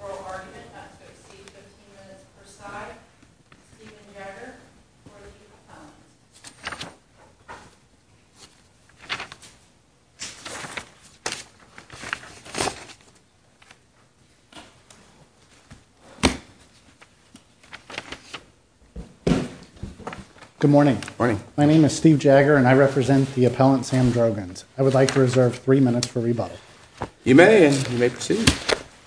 Oral argument, not to exceed 15 minutes per side, Stephen Jagger, 14 pounds. Good morning. My name is Steve Jagger and I represent the appellant Sam Droganes. I would like to reserve three minutes for rebuttal. You may, and you may proceed.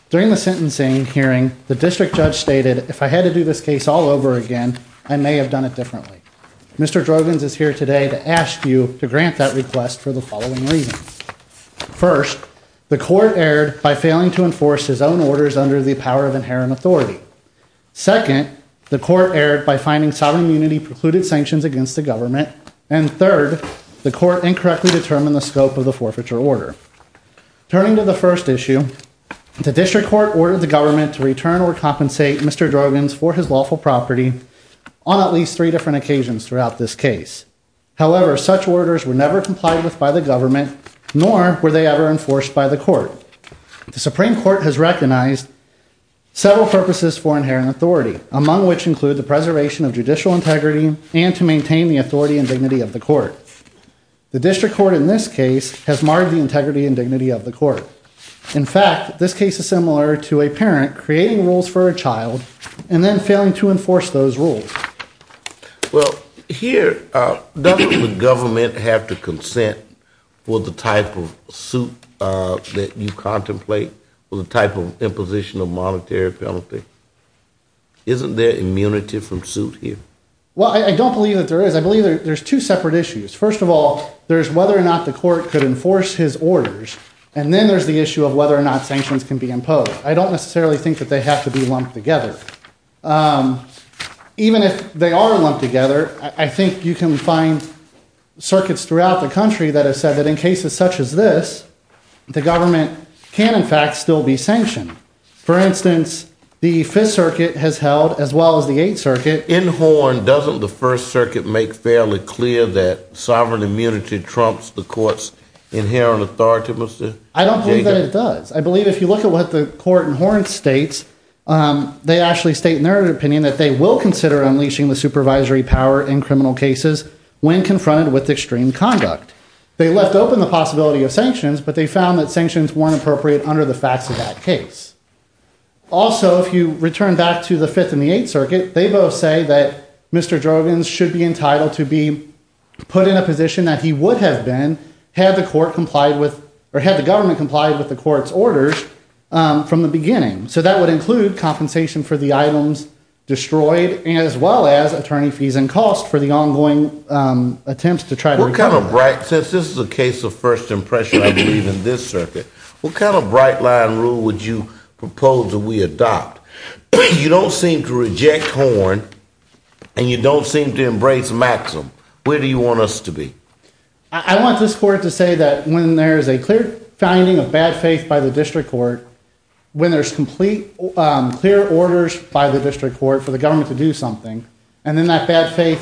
During the sentencing hearing, the district judge stated, if I had to do this case all over again, I may have done it differently. Mr. Droganes is here today to ask you to grant that request for the following reasons. First, the court erred by failing to enforce his own orders under the power of inherent authority. Second, the court erred by finding sovereign immunity precluded sanctions against the government. And third, the court incorrectly determined the scope of the forfeiture order. Turning to the first issue, the district court ordered the government to return or compensate Mr. Droganes for his lawful property on at least three different occasions throughout this case. However, such orders were never complied with by the government, nor were they ever enforced by the court. The Supreme Court has several purposes for inherent authority, among which include the preservation of judicial integrity and to maintain the authority and dignity of the court. The district court in this case has marred the integrity and dignity of the court. In fact, this case is similar to a parent creating rules for a child and then failing to enforce those rules. Well, here, doesn't the government have to consent with the type of suit that you contemplate or the type of imposition of monetary penalty? Isn't there immunity from suit here? Well, I don't believe that there is. I believe there's two separate issues. First of all, there's whether or not the court could enforce his orders, and then there's the issue of whether or not sanctions can be imposed. I don't necessarily think that they have to be lumped together. Even if they are lumped together, I think you can find circuits throughout the country that have said that in cases such as this, the government can in fact still be sanctioned. For instance, the Fifth Circuit has held, as well as the Eighth Circuit... In Horn, doesn't the First Circuit make fairly clear that sovereign immunity trumps the court's inherent authority, Mr. Jager? I don't believe that it does. I believe if you look at what the court in Horn states, they actually state in their opinion that they will consider unleashing the supervisory power in criminal cases when confronted with extreme conduct. They left open the possibility of sanctions, but they found that sanctions weren't appropriate under the facts of that case. Also, if you return back to the Fifth and the Eighth Circuit, they both say that Mr. Drogon should be entitled to be put in a position that he would have been had the court complied with, or had the government complied with the court's orders from the beginning. So that would include compensation for the items destroyed, as well as attorney fees and costs for the ongoing attempts to try to recover that. What kind of bright... Since this is a case of first impression, I believe, in this circuit, what kind of bright-line rule would you propose that we adopt? You don't seem to reject Horn, and you don't seem to embrace Maxim. Where do you want us to be? I want this court to say that when there is a clear finding of bad faith by the district court, when there's complete, clear orders by the district court for the government to do something, and in that bad faith,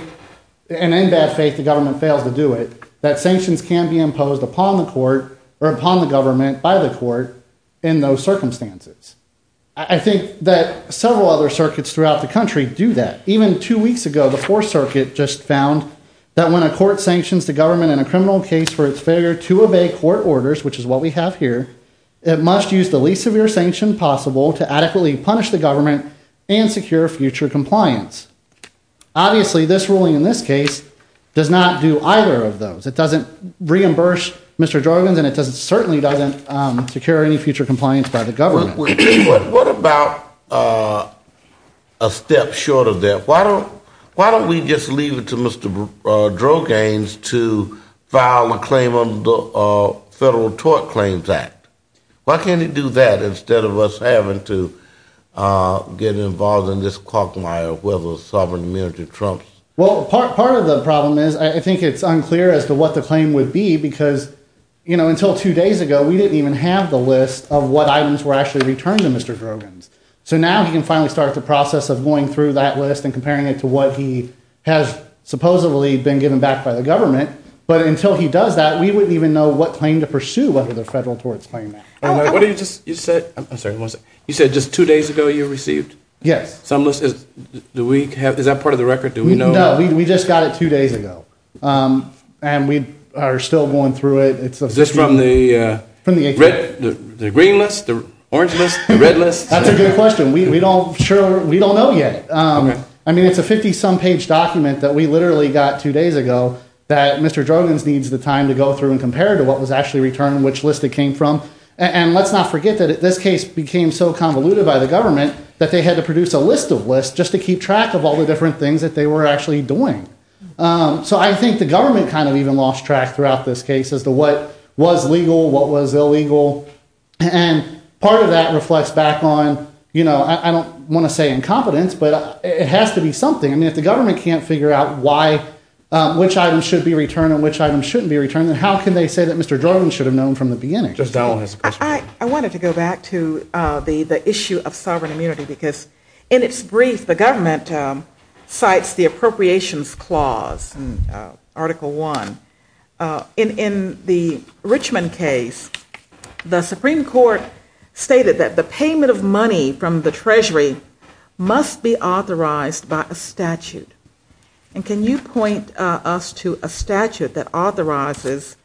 the government fails to do it, that sanctions can be imposed upon the court, or upon the government by the court, in those circumstances. I think that several other circuits throughout the country do that. Even two weeks ago, the Fourth Circuit just found that when a court sanctions the government in a criminal case for its failure to obey court orders, which is what we have here, it must use the least severe sanction possible to adequately punish the government and secure future compliance. Obviously, this ruling in this case does not do either of those. It doesn't reimburse Mr. Drogans, and it certainly doesn't secure any future compliance by the government. What about a step short of that? Why don't we just leave it to Mr. Drogans to file a Federal Tort Claims Act? Why can't he do that, instead of us having to get involved in this caulkmire, whether it's sovereign immunity or Trump's? Part of the problem is, I think it's unclear as to what the claim would be, because until two days ago, we didn't even have the list of what items were actually returned to Mr. Drogans. Now, he can finally start the process of going through that list and comparing it to what he has supposedly been given back by the government, but until he does that, we wouldn't even know what claim to pursue under the Federal Tort Claims Act. You said just two days ago, you received some list? Is that part of the record? No, we just got it two days ago, and we are still going through it. Is this from the green list, the orange list, the red list? That's a good question. We don't know yet. It's a 50-some page document that we literally got two days ago that Mr. Drogans needs the time to go through and compare to what was actually returned and which list it came from. Let's not forget that this case became so convoluted by the government that they had to produce a list of lists just to keep track of all the different things that they were actually doing. I think the government kind of even lost track throughout this case as to what was legal, what was illegal, and part of that reflects back on, I don't want to say incompetence, but it has to be something. If the government can't figure out which items should be returned and which items shouldn't be returned, then how can they say that Mr. Drogans should have known from the beginning? I wanted to go back to the issue of sovereign immunity because in its brief, the government cites the Appropriations Clause, Article 1. In the Richmond case, the Supreme Court stated that the payment of money from the Treasury must be authorized by a statute. Can you point us to a statute that authorizes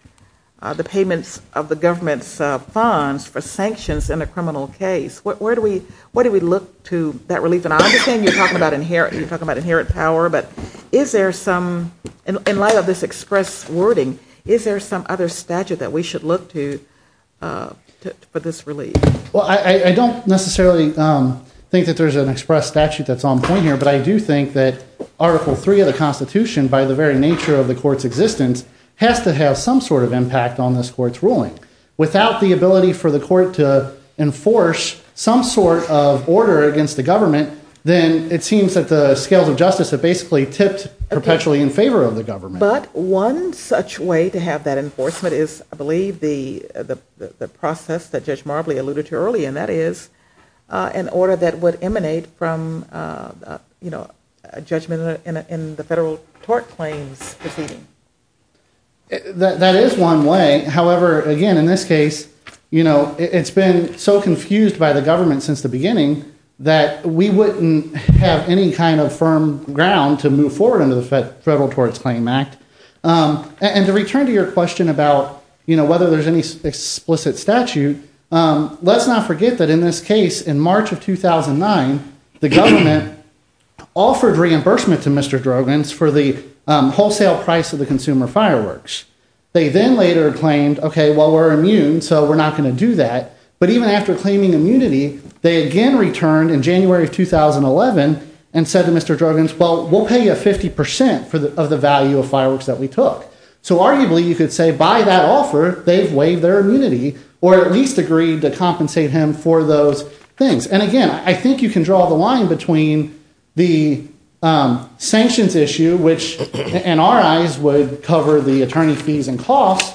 the payments of the government's funds for sanctions in a criminal case? What do we look to that relief? I understand you're talking about inherent power, but in light of this express wording, is there some other statute that we should look to for this relief? I don't necessarily think that there's an express statute that's on point here, but I do think that Article 3 of the Constitution, by the very nature of the court's existence, has to have some sort of impact on this court's ruling. Without the ability for the court to enforce some sort of order against the government, then it seems that the scales of justice have basically tipped perpetually in favor of the government. But one such way to have that enforcement is, I believe, the process that Judge Marbley alluded to earlier, and that is an order that would emanate from a judgment in the Federal Tort Claims Proceedings. That is one way. However, again, in this case, it's been so confused by the government since the beginning that we wouldn't have any kind of firm ground to move forward under the Federal Torts Claim Act. And to return to your question about whether there's any explicit statute, let's not forget that in this case, in March of 2009, the government offered reimbursement to Mr. Drogens for the wholesale price of the consumer fireworks. They then later claimed, OK, well, we're immune, so we're not going to do that. But even after claiming immunity, they again returned in January of 2011 and said to Mr. Drogens, well, we'll pay you 50 percent of the value of fireworks that we took. So arguably, you could say by that offer, they've waived their immunity or at least agreed to compensate him for those things. And again, I think you can draw the line between the sanctions issue, which in our eyes would cover the attorney fees and costs,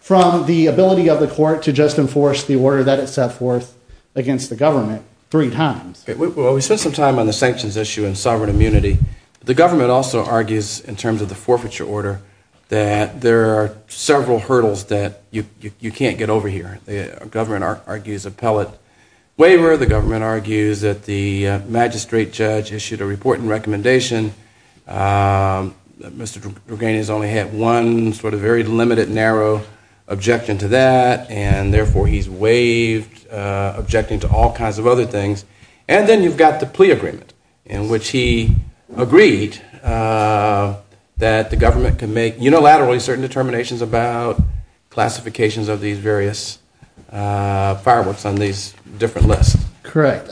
from the ability of the court to just enforce the order that it set forth against the government three times. Well, we spent some time on the sanctions issue and sovereign immunity. The government also argues in terms of the forfeiture order that there are several hurdles that you can't get over here. The government argues appellate waiver. The government argues that the magistrate judge issued a report and recommendation. Mr. Drogens only had one sort of very limited narrow objection to that, and therefore he's waived, objecting to all kinds of other things. And then you've got the plea agreement, in which he agreed that the government could make unilaterally certain determinations about classifications of these various fireworks on these different lists. Correct.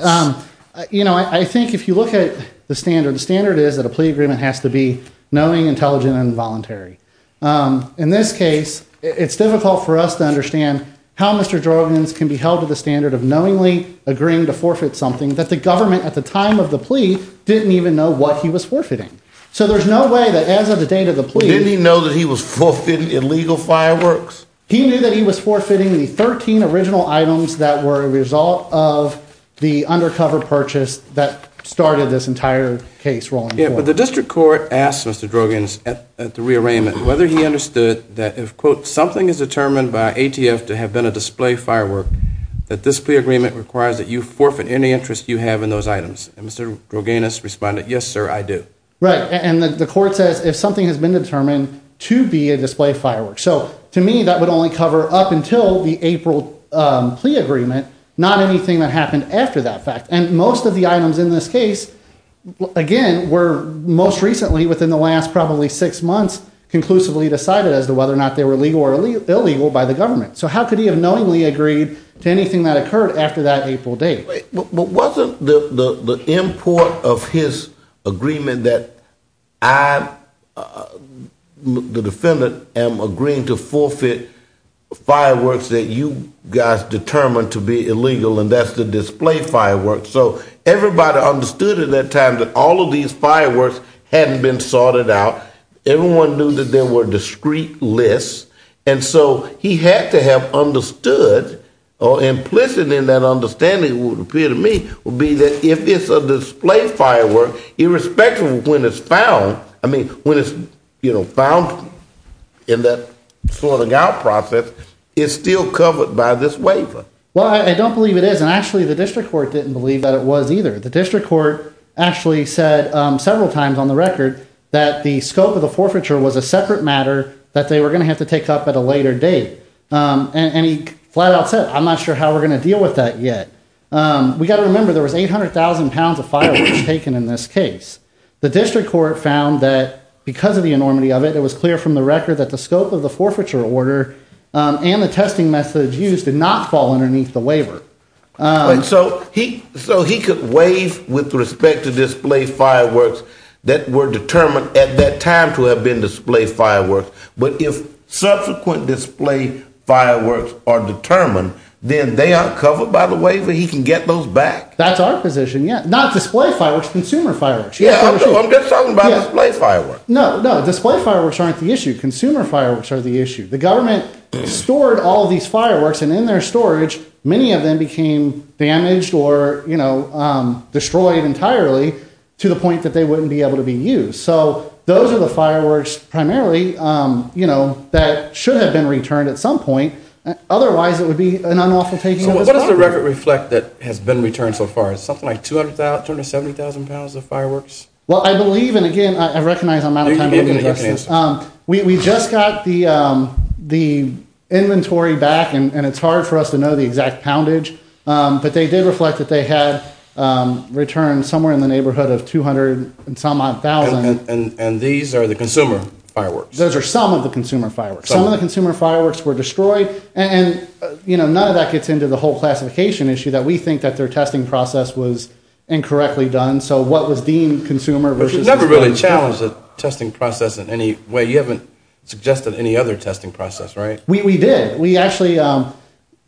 You know, I think if you look at the standard, the standard is that a plea agreement has to be knowing, intelligent, and voluntary. In this case, it's difficult for us to understand how Mr. Drogens can be held to the standard of knowingly agreeing to forfeit something that the government, at the time of the plea, didn't even know what he was forfeiting. So there's no way that, as of the date of the plea... Didn't he know that he was forfeiting illegal fireworks? He knew that he was forfeiting the 13 original items that were a result of the undercover purchase that started this entire case rolling forward. Yeah, but the district court asked Mr. Drogens at the rearrangement whether he understood that if, quote, something is determined by ATF to have been a display firework, that this plea agreement requires that you forfeit any interest you have in those items. And Mr. Drogens responded, yes, sir, I do. Right, and the court says if something has been determined to be a display firework. So to me, that would only cover up until the April plea agreement, not anything that happened after that fact. And most of the items in this case, again, were most recently, within the last probably six months, conclusively decided as to whether or not they were legal by the government. So how could he have knowingly agreed to anything that occurred after that April date? But wasn't the import of his agreement that I, the defendant, am agreeing to forfeit fireworks that you guys determined to be illegal, and that's the display fireworks. So everybody understood at that time that all of these fireworks hadn't been sorted out. Everyone knew that there were discrete lists. And so he had to have understood, or implicit in that understanding, it would appear to me, would be that if it's a display firework, irrespective of when it's found, I mean, when it's found in that sorting out process, it's still covered by this waiver. Well, I don't believe it is. And actually, the district court didn't believe that it was either. The district court actually said several times on the record that the scope of the forfeiture was a separate matter that they were going to have to take up at a later date. And he flat out said, I'm not sure how we're going to deal with that yet. We've got to remember, there was 800,000 pounds of fireworks taken in this case. The district court found that because of the enormity of it, it was clear from the record that the scope of the forfeiture order and the testing methods used did not fall underneath the waiver. So he could waive with respect to display fireworks that were determined at that time to have been display fireworks. But if subsequent display fireworks are determined, then they are covered by the waiver. He can get those back. That's our position, yeah. Not display fireworks, consumer fireworks. Yeah, I'm just talking about display fireworks. No, no, display fireworks aren't the issue. Consumer fireworks are the issue. The government stored all of these fireworks, and in their storage, many of them became damaged or destroyed entirely to the point that they wouldn't be able to be used. So those are the fireworks primarily that should have been returned at some point. Otherwise, it would be an unlawful taking of this property. So what does the record reflect that has been returned so far? Is it something like 270,000 pounds of fireworks? Well, I believe, and again, I recognize I'm out of time. We just got the inventory back, and it's hard for us to know the exact poundage. But they did reflect that they had returned somewhere in the neighborhood of 200 and some odd thousand. And these are the consumer fireworks? Those are some of the consumer fireworks. Some of the consumer fireworks were destroyed. And none of that gets into the whole classification issue that we think that their testing process was incorrectly done. So what was deemed consumer versus— But you never really challenged the testing process in any way. You haven't suggested any other testing process, right? We did. We actually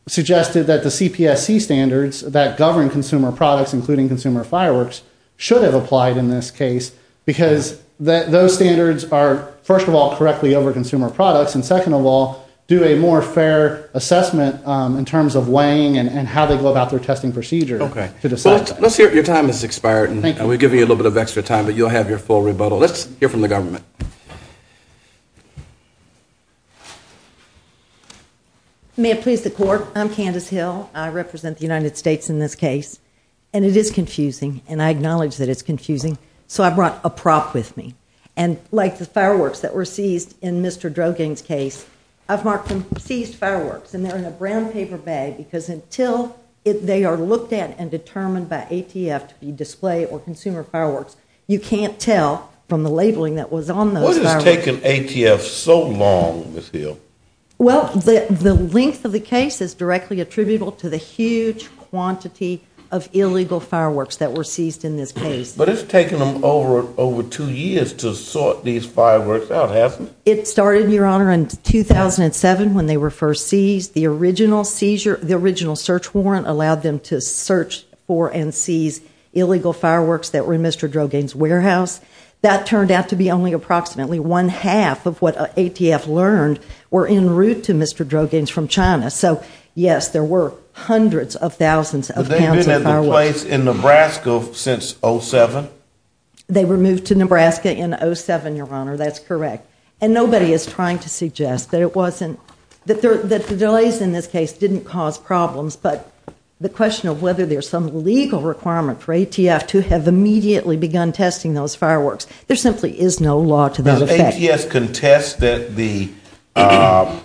suggested that the CPSC standards that govern consumer products, including consumer fireworks, should have applied in this case because those standards are, first of all, correctly over consumer products, and second of all, do a more fair assessment in terms of weighing and how they go about their testing procedure to decide that. Let's hear—your time has expired, and we'll give you a little bit of extra time, but you'll have your full rebuttal. Let's hear from the government. May it please the court, I'm Candace Hill. I represent the United States in this case, and it is confusing, and I acknowledge that it's confusing, so I brought a prop with me. And like the fireworks that were seized in Mr. Drogan's case, I've marked them with a brown paper bag because until they are looked at and determined by ATF to be display or consumer fireworks, you can't tell from the labeling that was on those fireworks. What has taken ATF so long, Ms. Hill? Well, the length of the case is directly attributable to the huge quantity of illegal fireworks that were seized in this case. But it's taken them over two years to sort these fireworks out, hasn't it? It started, Your Honor, in 2007 when they were first seized. The original search warrant allowed them to search for and seize illegal fireworks that were in Mr. Drogan's warehouse. That turned out to be only approximately one half of what ATF learned were en route to Mr. Drogan's from China. So, yes, there were hundreds of thousands of pounds of fireworks. But they've been at the place in Nebraska since 07? They were moved to Nebraska in 07, Your Honor. That's correct. And nobody is trying to suggest that the delays in this case didn't cause problems, but the question of whether there's some legal requirement for ATF to have immediately begun testing those fireworks, there simply is no law to that effect. Does ATF contest that the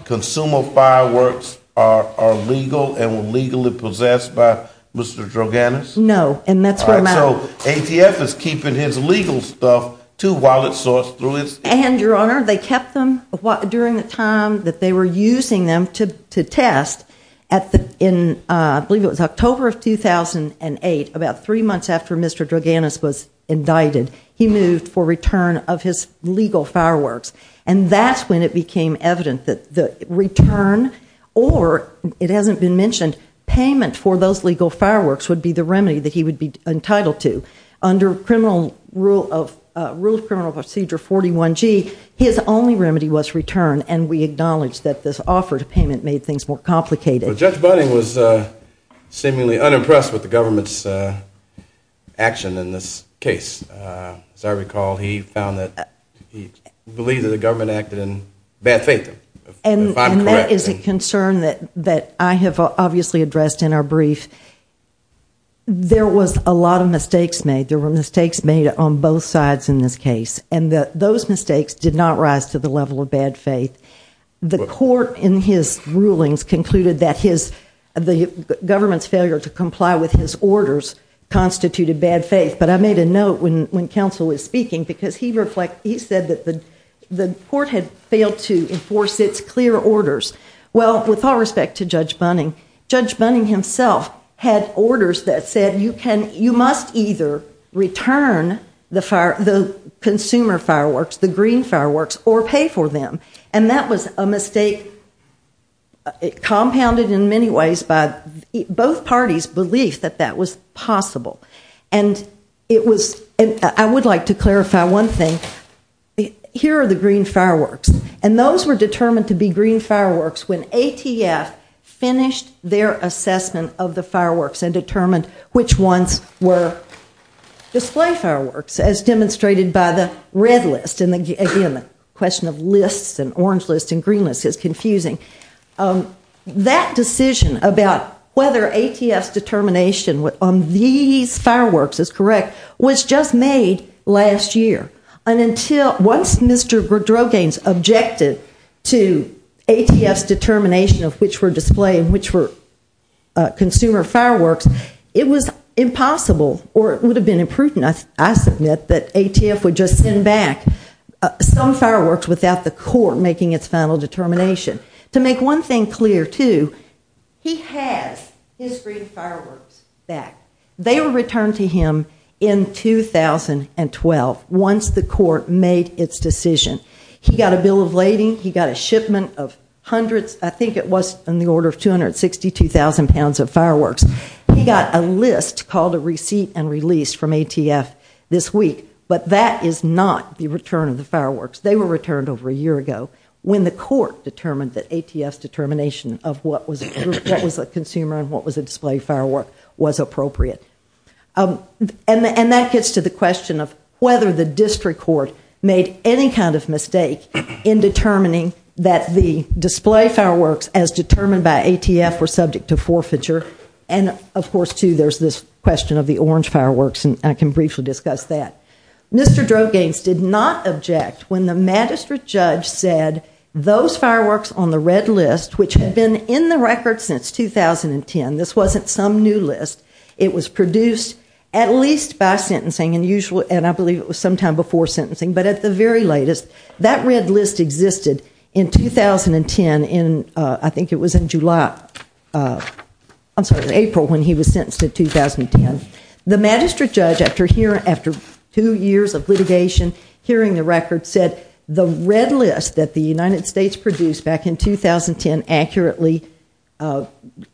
consumer fireworks are legal and were legally possessed by Mr. Drogan? No, and that's what I'm asking. So ATF is keeping his legal stuff to while it sorts through its case? And, Your Honor, they kept them during the time that they were using them to test. I believe it was October of 2008, about three months after Mr. Drogan was indicted, he moved for return of his legal fireworks. And that's when it became evident that the return or, it hasn't been mentioned, payment for those legal fireworks would be the remedy that he would be entitled to. Under Rule of Criminal Procedure 41G, his only remedy was return, and we acknowledge that this offer to payment made things more complicated. Judge Bunning was seemingly unimpressed with the government's action in this case. As I recall, he believed that the government acted in bad faith. And that is a concern that I have obviously addressed in our brief. There was a lot of mistakes made. There were mistakes made on both sides in this case, and those mistakes did not rise to the level of bad faith. The court, in his rulings, concluded that the government's failure to comply with his orders constituted bad faith. But I made a note when counsel was speaking because he said that the court had failed to enforce its clear orders. Well, with all respect to Judge Bunning, Judge Bunning himself had orders that said you must either return the consumer fireworks, the green fireworks, or pay for them. And that was a mistake compounded in many ways by both parties' belief that that was possible. And I would like to clarify one thing. Here are the green fireworks. And those were determined to be green fireworks when ATF finished their assessment of the fireworks and determined which ones were display fireworks, as demonstrated by the red list. And again, the question of lists and orange lists and green lists is confusing. That decision about whether ATF's determination on these fireworks is correct was just made last year. Once Mr. Drogane objected to ATF's determination of which were display and which were consumer fireworks, it was impossible, or it would have been imprudent, I submit, that ATF would just send back some fireworks without the court making its final determination. To make one thing clear, too, he has his green fireworks back. They were returned to him in 2012 once the court made its decision. He got a bill of lading. He got a shipment of hundreds, I think it was in the order of 262,000 pounds of fireworks. He got a list called a receipt and release from ATF this week. But that is not the return of the fireworks. They were returned over a year ago when the court determined that ATF's determination of what was a consumer and what was a display firework was appropriate. And that gets to the question of whether the district court made any kind of mistake in determining that the display fireworks as determined by ATF were subject to forfeiture. And, of course, too, there's this question of the orange fireworks, and I can briefly discuss that. Mr. Drogane did not object when the magistrate judge said those fireworks on the red list, which had been in the record since 2010, this wasn't some new list. It was produced at least by sentencing, and I believe it was sometime before sentencing, but at the very latest. That red list existed in 2010 in, I think it was in July, I'm sorry, in April when he was sentenced in 2010. The magistrate judge, after two years of litigation, hearing the record, said the red list that the United States produced back in 2010 accurately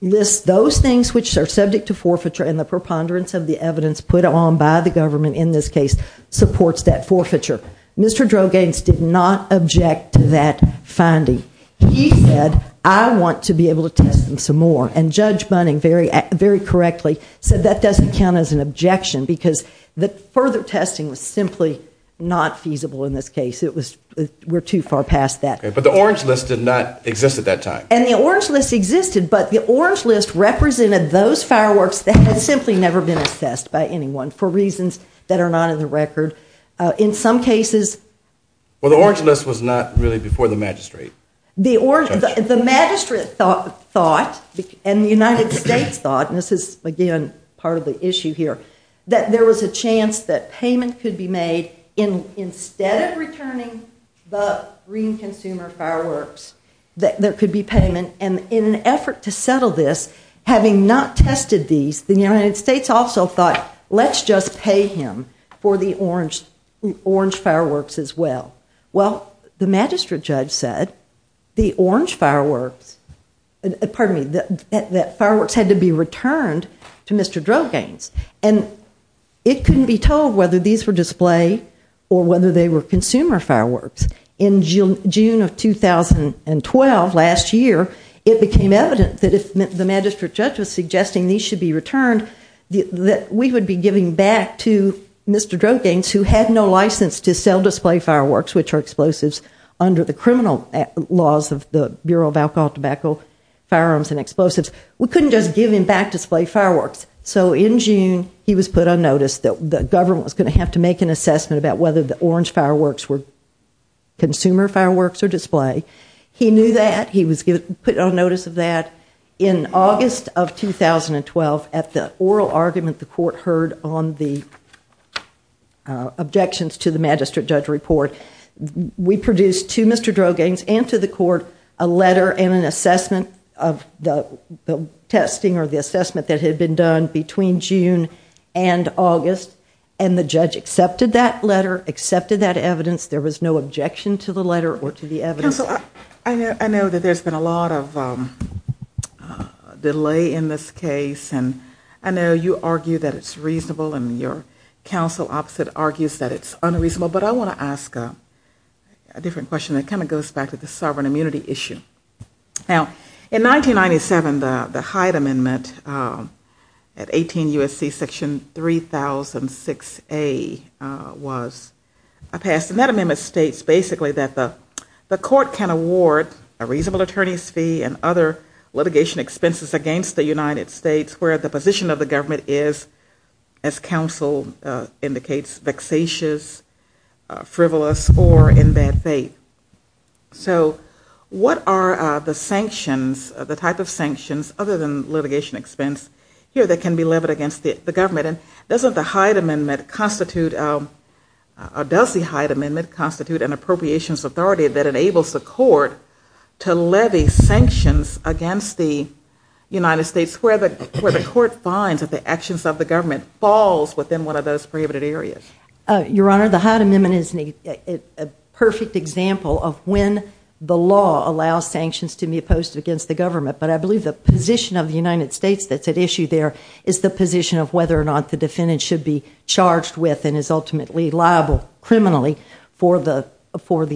lists those things which are subject to forfeiture and the preponderance of the evidence put on by the government in this case supports that forfeiture. Mr. Drogane did not object to that finding. He said, I want to be able to test them some more, and Judge Bunning, very correctly, said that doesn't count as an objection because the further testing was simply not feasible in this case. We're too far past that. But the orange list did not exist at that time. And the orange list existed, but the orange list represented those fireworks that had simply never been assessed by anyone for reasons that are not in the record. In some cases. Well, the orange list was not really before the magistrate. The magistrate thought, and the United States thought, and this is, again, part of the issue here, that there was a chance that payment could be made instead of returning the green consumer fireworks, that there could be payment. And in an effort to settle this, having not tested these, the United States also thought, let's just pay him for the orange fireworks as well. Well, the magistrate judge said the orange fireworks, pardon me, that fireworks had to be returned to Mr. Drogane's. And it couldn't be told whether these were display or whether they were consumer fireworks. In June of 2012, last year, it became evident that if the magistrate judge was suggesting these should be returned, that we would be giving back to Mr. Drogane's, who had no license to sell display fireworks, which are explosives, under the criminal laws of the Bureau of Alcohol, Tobacco, Firearms, and Explosives. We couldn't just give him back display fireworks. So in June, he was put on notice that the government was going to have to make an assessment about whether the orange fireworks were consumer fireworks or display. He knew that. He was put on notice of that. In August of 2012, at the oral argument the court heard on the objections to the magistrate judge report, we produced to Mr. Drogane's and to the court a letter and an assessment of the testing or the assessment that had been done between June and August. And the judge accepted that letter, accepted that evidence. There was no objection to the letter or to the evidence. Counsel, I know that there's been a lot of delay in this case, and I know you argue that it's reasonable and your counsel opposite argues that it's unreasonable, but I want to ask a different question that kind of goes back to the sovereign immunity issue. Now, in 1997, the Hyde Amendment at 18 U.S.C. Section 3006A was passed. And that amendment states basically that the court can award a reasonable attorney's fee and other litigation expenses against the United States where the position of the government is, as counsel indicates, vexatious, frivolous, or in bad faith. So what are the sanctions, the type of sanctions other than litigation expense here that can be levied against the government? And doesn't the Hyde Amendment constitute or does the Hyde Amendment constitute an appropriations authority that enables the court to levy sanctions against the United States where the court finds that the actions of the government falls within one of those prohibited areas? Your Honor, the Hyde Amendment is a perfect example of when the law allows sanctions to be imposed against the government, but I believe the position of the United States that's at issue there is the position of whether or not the defendant should be charged with and is ultimately liable criminally for the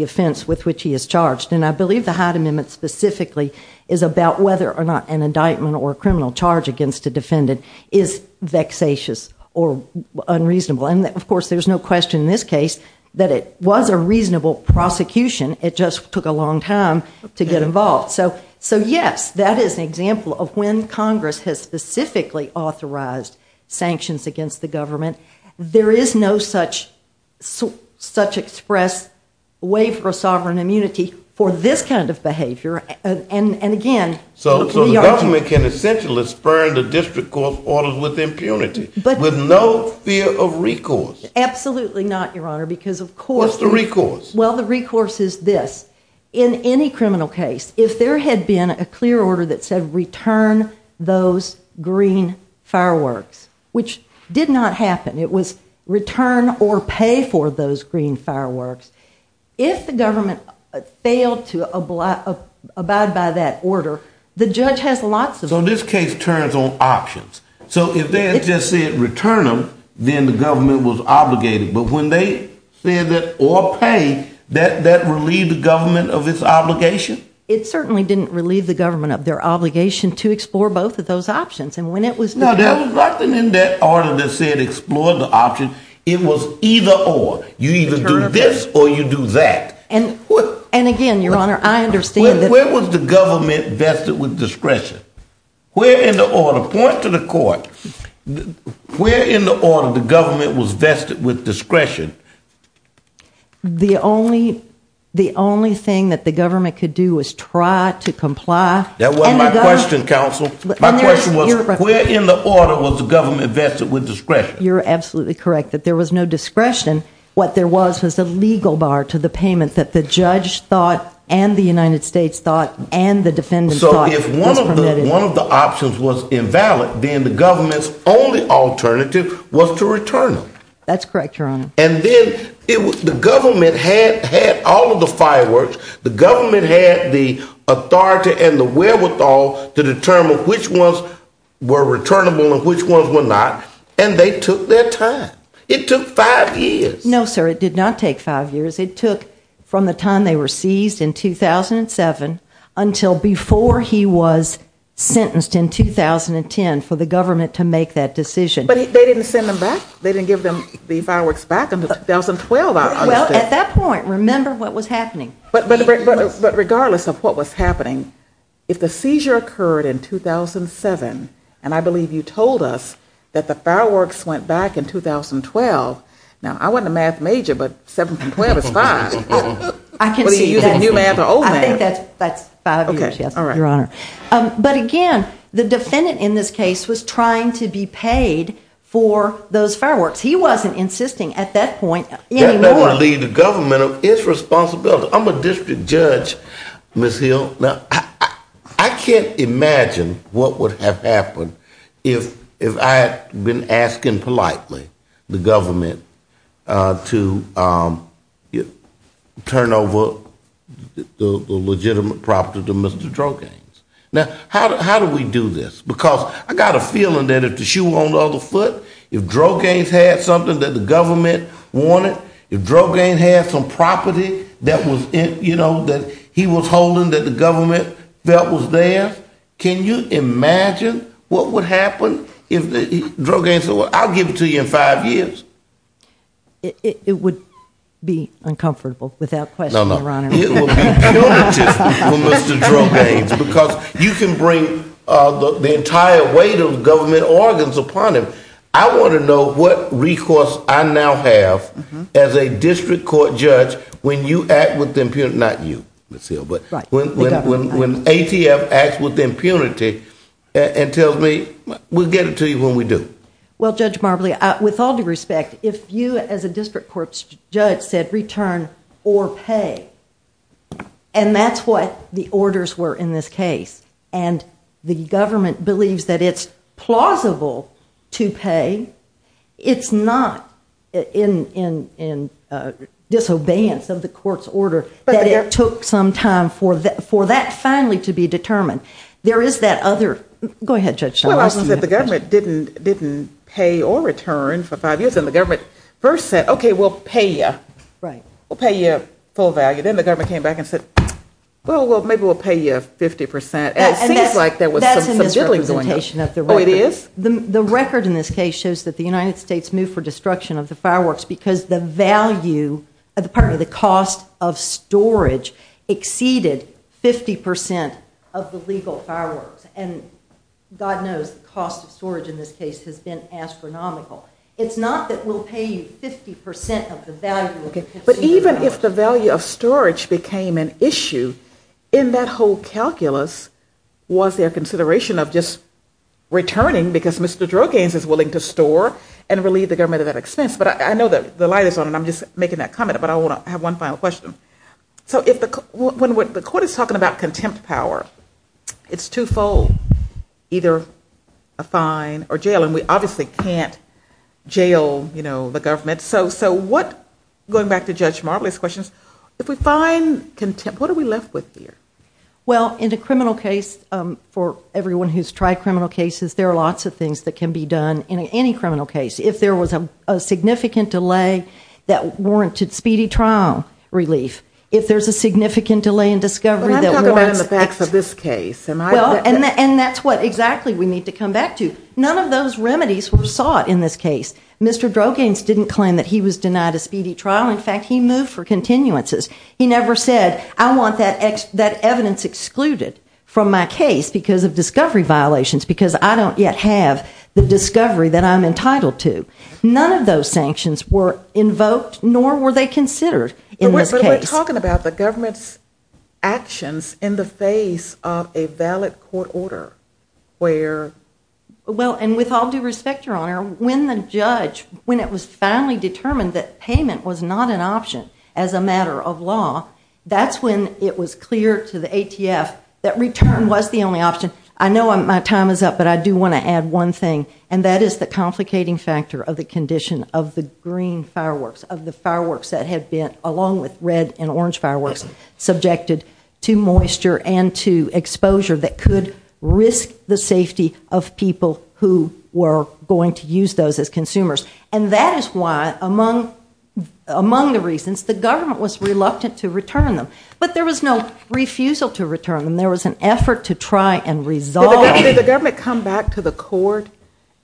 offense with which he is charged. And I believe the Hyde Amendment specifically is about whether or not an indictment or a criminal charge against a defendant is vexatious or unreasonable. And of course there's no question in this case that it was a reasonable prosecution. It just took a long time to get involved. So yes, that is an example of when Congress has specifically authorized sanctions against the government. There is no such expressed waiver of sovereign immunity for this kind of behavior. So the government can essentially spurn the district court's orders with impunity with no fear of recourse? Absolutely not, Your Honor, because of course... What's the recourse? Well, the recourse is this. In any criminal case, if there had been a clear order that said return those green fireworks, which did not happen. It was return or pay for those green fireworks. If the government failed to abide by that order, the judge has lots of... So this case turns on options. So if they had just said return them, then the government was obligated. But when they said that or pay, that relieved the government of its obligation? It certainly didn't relieve the government of their obligation to explore both of those options. No, there was nothing in that order that said explore the option. It was either or. You either do this or you do that. And again, Your Honor, I understand that... Where was the government vested with discretion? Point to the court. Where in the order the government was vested with discretion? The only thing that the government could do was try to comply... That wasn't my question, counsel. My question was where in the order was the government vested with discretion? You're absolutely correct that there was no discretion. What there was was a legal bar to the payment that the judge thought and the United States thought and the defendants thought was permitted. So if one of the options was invalid, then the government's only alternative was to return them. That's correct, Your Honor. And then the government had all of the fireworks. The government had the authority and the wherewithal to determine which ones were returnable and which ones were not. And they took their time. It took five years. No, sir, it did not take five years. It took from the time they were seized in 2007 until before he was sentenced in 2010 for the government to make that decision. But they didn't send them back. They didn't give them the fireworks back until 2012, I understand. Well, at that point, remember what was happening. But regardless of what was happening, if the seizure occurred in 2007, and I believe you told us that the fireworks went back in 2012, now, I wasn't a math major, but 7 from 12 is 5. I can see that. I think that's five years, yes, Your Honor. But again, the defendant in this case was trying to be paid for those fireworks. He wasn't insisting at that point anymore. That doesn't leave the government its responsibility. I'm a district judge, Ms. Hill. Now, I can't imagine what would have happened if I had been asking politely the government to turn over fireworks. Now, how do we do this? Because I got a feeling that if the shoe were on the other foot, if Drogane had something that the government wanted, if Drogane had some property that he was holding that the government felt was theirs, can you imagine what would happen if Drogane said, well, I'll give it to you in five years? It would be uncomfortable, without question, Your Honor. It would be punitive for Mr. Drogane because you can bring the entire weight of government organs upon him. I want to know what recourse I now have as a district court judge when you act with impunity, not you, Ms. Hill, but when ATF acts with impunity and tells me, we'll get it to you when we do. Well, Judge Marbley, with all due respect, if you as a district court judge said return or pay, and that's what the orders were in this case, and the government believes that it's plausible to pay, it's not in disobedience of the court's order that it took some time for that finally to be determined. There is that other, go ahead, Judge Charles. Well, I was going to say the government didn't pay or return for five years, and the government first said, okay, we'll pay you. We'll pay you full value. Then the government came back and said, well, maybe we'll pay you 50%. And it seems like there was some biddling going on. That's a misrepresentation of the record. Oh, it is? The record in this case shows that the United States moved for destruction of the fireworks because the value, pardon me, the cost of storage exceeded 50% of the legal fireworks. And God knows the cost of storage in this case has been astronomical. It's not that we'll pay you 50% of the value. But even if the value of storage became an issue, in that whole calculus, was there consideration of just returning because Mr. Droganes is willing to store and relieve the government of that expense? But I know the light is on, and I'm just making that comment, but I want to have one final question. So when the court is talking about contempt power, it's twofold, either a fine or jail, and we obviously can't jail the government. So going back to Judge Marbley's questions, if we find contempt, what are we left with here? Well, in a criminal case, for everyone who's tried criminal cases, there are lots of things that can be done in any criminal case. If there was a significant delay that warranted speedy trial relief, if there's a significant delay in discovery that warrants it. But I'm talking about the facts of this case. And that's what exactly we need to come back to. None of those remedies were sought in this case. Mr. Droganes didn't claim that he was denied a speedy trial. In fact, he moved for continuances. He never said, I want that evidence excluded from my case because of discovery violations, because I don't yet have the discovery that I'm entitled to. None of those sanctions were invoked, nor were they considered in this case. But we're talking about the government's actions in the face of a valid court order, where the government's actions in the face of a valid court order, when the judge, when it was finally determined that payment was not an option as a matter of law, that's when it was clear to the ATF that return was the only option. I know my time is up, but I do want to add one thing, and that is the complicating factor of the condition of the green fireworks, of the fireworks that had been, along with red and orange fireworks, subjected to moisture and to exposure that could risk the safety of people who were going to use those as consumers. And that is why, among the reasons, the government was reluctant to return them. But there was no refusal to return them. There was an effort to try and resolve. Did the government come back to the court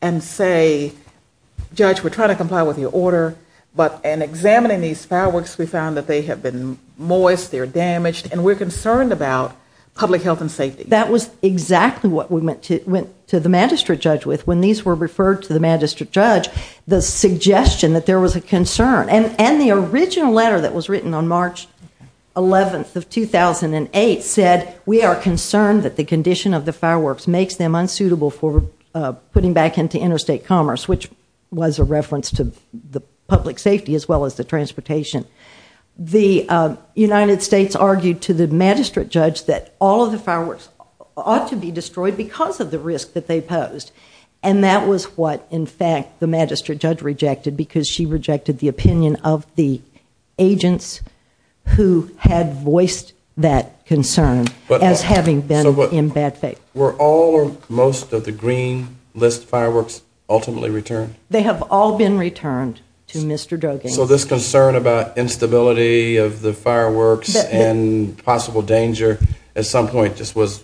and say, judge, we're trying to comply with your order, but in examining these fireworks, we found that they have been moist, they're damaged, and we're concerned about public health and safety? That was exactly what we went to the magistrate judge with when these were referred to the magistrate judge, the suggestion that there was a concern. And the original letter that was written on March 11th of 2008 said, we are concerned that the condition of the fireworks makes them unsuitable for putting back into interstate commerce, which was a reference to the public safety as well as the transportation. The United States argued to the magistrate judge that all of the fireworks ought to be destroyed because of the risk that they posed. And that was what, in fact, the magistrate judge rejected, because she rejected the opinion of the agents who had voiced that concern as having been in bad faith. Were all or most of the green list fireworks ultimately returned? They have all been returned to Mr. Drogain's. So this concern about instability of the fireworks and possible danger at some point just was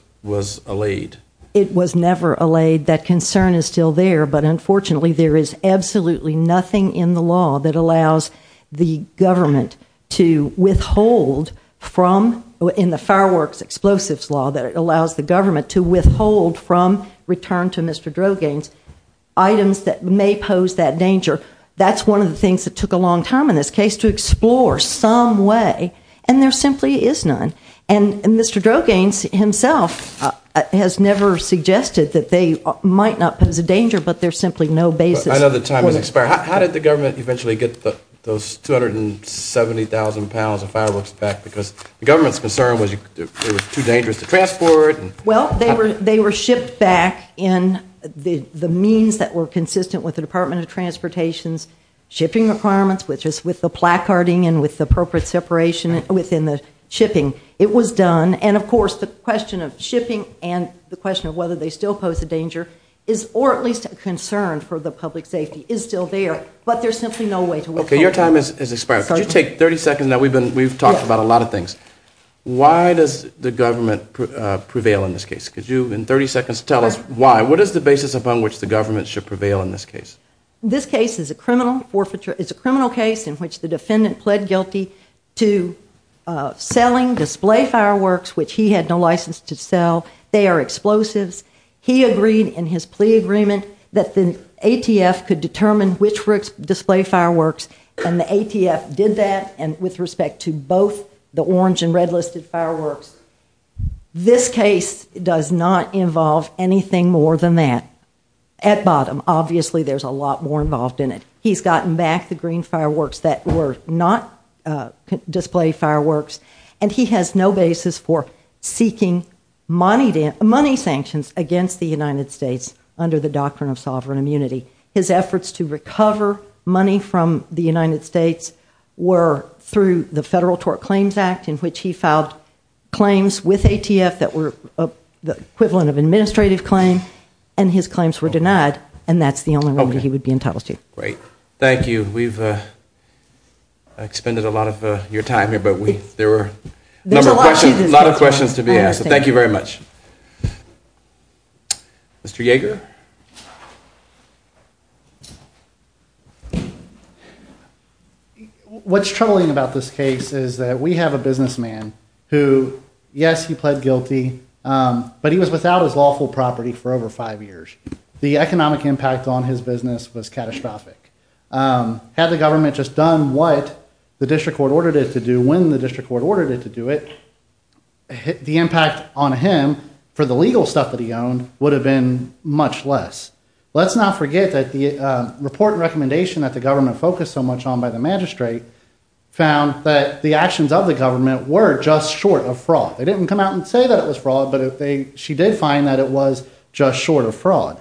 allayed? It was never allayed. That concern is still there, but unfortunately there is absolutely nothing in the law that allows the government to withhold from, in the fireworks explosives law that allows the government to withhold from return to Mr. Drogain's items that may possibly be used to impose that danger. That's one of the things that took a long time in this case to explore some way, and there simply is none. And Mr. Drogain himself has never suggested that they might not pose a danger, but there's simply no basis. I know the time has expired. How did the government eventually get those 270,000 pounds of fireworks back? Because the government's concern was they were too dangerous to transport. Well, they were shipped back in the means that were consistent with the Department of Transportation's shipping requirements, which is with the placarding and with the appropriate separation within the shipping. It was done, and of course the question of shipping and the question of whether they still pose a danger is, or at least a concern for the public safety, is still there, but there's simply no way to withhold. Okay, your time has expired. Could you take 30 seconds now? We've talked about a lot of things. Why does the government prevail in this case? Could you, in 30 seconds, tell us why? What is the basis upon which the government should prevail in this case? This case is a criminal case in which the defendant pled guilty to selling display fireworks, which he had no license to sell. They are explosives. He agreed in his plea agreement that the ATF could determine which display fireworks, and the ATF did that with respect to both the orange and red listed fireworks. This case does not involve anything more than that. At bottom, obviously there's a lot more involved in it. He's gotten back the green fireworks that were not display fireworks, and he has no basis for seeking money sanctions against the United States under the doctrine of sovereign immunity. His efforts to recover money from the United States were through the Federal Tort Claims Act, in which he filed claims with ATF that were the equivalent of administrative claim, and his claims were denied, and that's the only remedy he would be entitled to. Great. Thank you. We've expended a lot of your time here, but there were a lot of questions to be asked, so thank you very much. Mr. Yeager? What's troubling about this case is that we have a businessman who, yes, he pled guilty, but he was without his lawful property for over five years. The economic impact on his business was catastrophic. Had the government just done what the district court ordered it to do when the district court ordered it to do it, the impact on him for the legal stuff that he owned would have been much less. Let's not forget that the report and recommendation that the government focused so much on by the magistrate found that the actions of the government were just short of fraud. They didn't come out and say that it was fraud, but she did find that it was just short of fraud.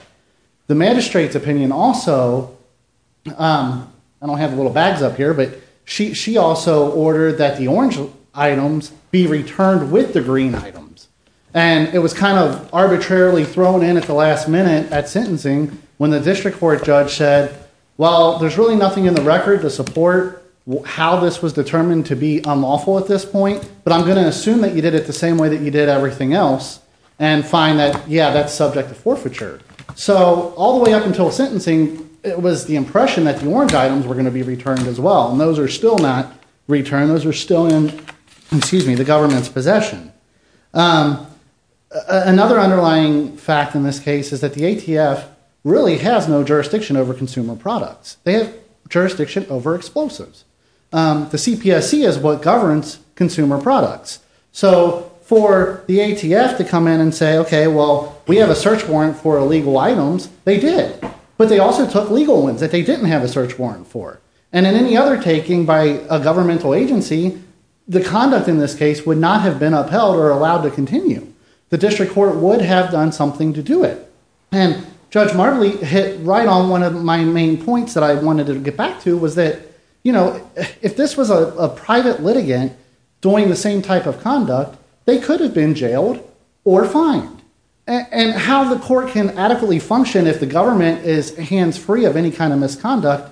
The magistrate's opinion also, I don't have the little bags up here, but she also ordered that the orange items be returned with the green items, and it was kind of arbitrarily thrown in at the last minute at sentencing when the district court judge said, well, there's really nothing in the record to support how this was determined to be unlawful at this point, but I'm going to assume that you did it the same way that you did everything else and find that, yeah, that's subject to forfeiture. So all the way up until sentencing, it was the impression that the orange items were going to be returned as well, and those are still not returned. Those are still in the government's possession. Another underlying fact in this case is that the ATF really has no jurisdiction over consumer products. They have jurisdiction over explosives. The CPSC is what governs consumer products. So for the ATF to come in and say, okay, well, we have a search warrant for illegal items, they did, but they also took legal ones that they didn't have a search warrant for, and in any other taking by a governmental agency, the conduct in this case would not have been upheld or allowed to continue. The district court would have done something to do it, and Judge Marbley hit right on one of my main points that I wanted to get back to was that, if this was a private litigant doing the same type of conduct, they could have been jailed or fined, and how the court can adequately function if the government is hands-free of any kind of misconduct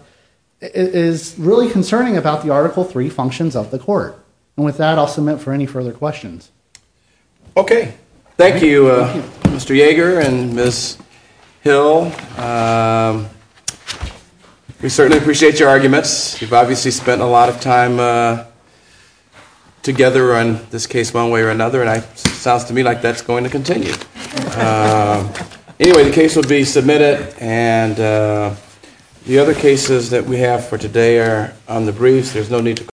is really concerning about the Article III functions of the court, and with that, I'll submit for any further questions. Okay. Thank you, Mr. Yeager and Ms. Hill. We certainly appreciate your arguments. You've obviously spent a lot of time together on this case one way or another, and it sounds to me like that's going to continue. Anyway, the case will be submitted, and the other cases that we have for today are on the briefs.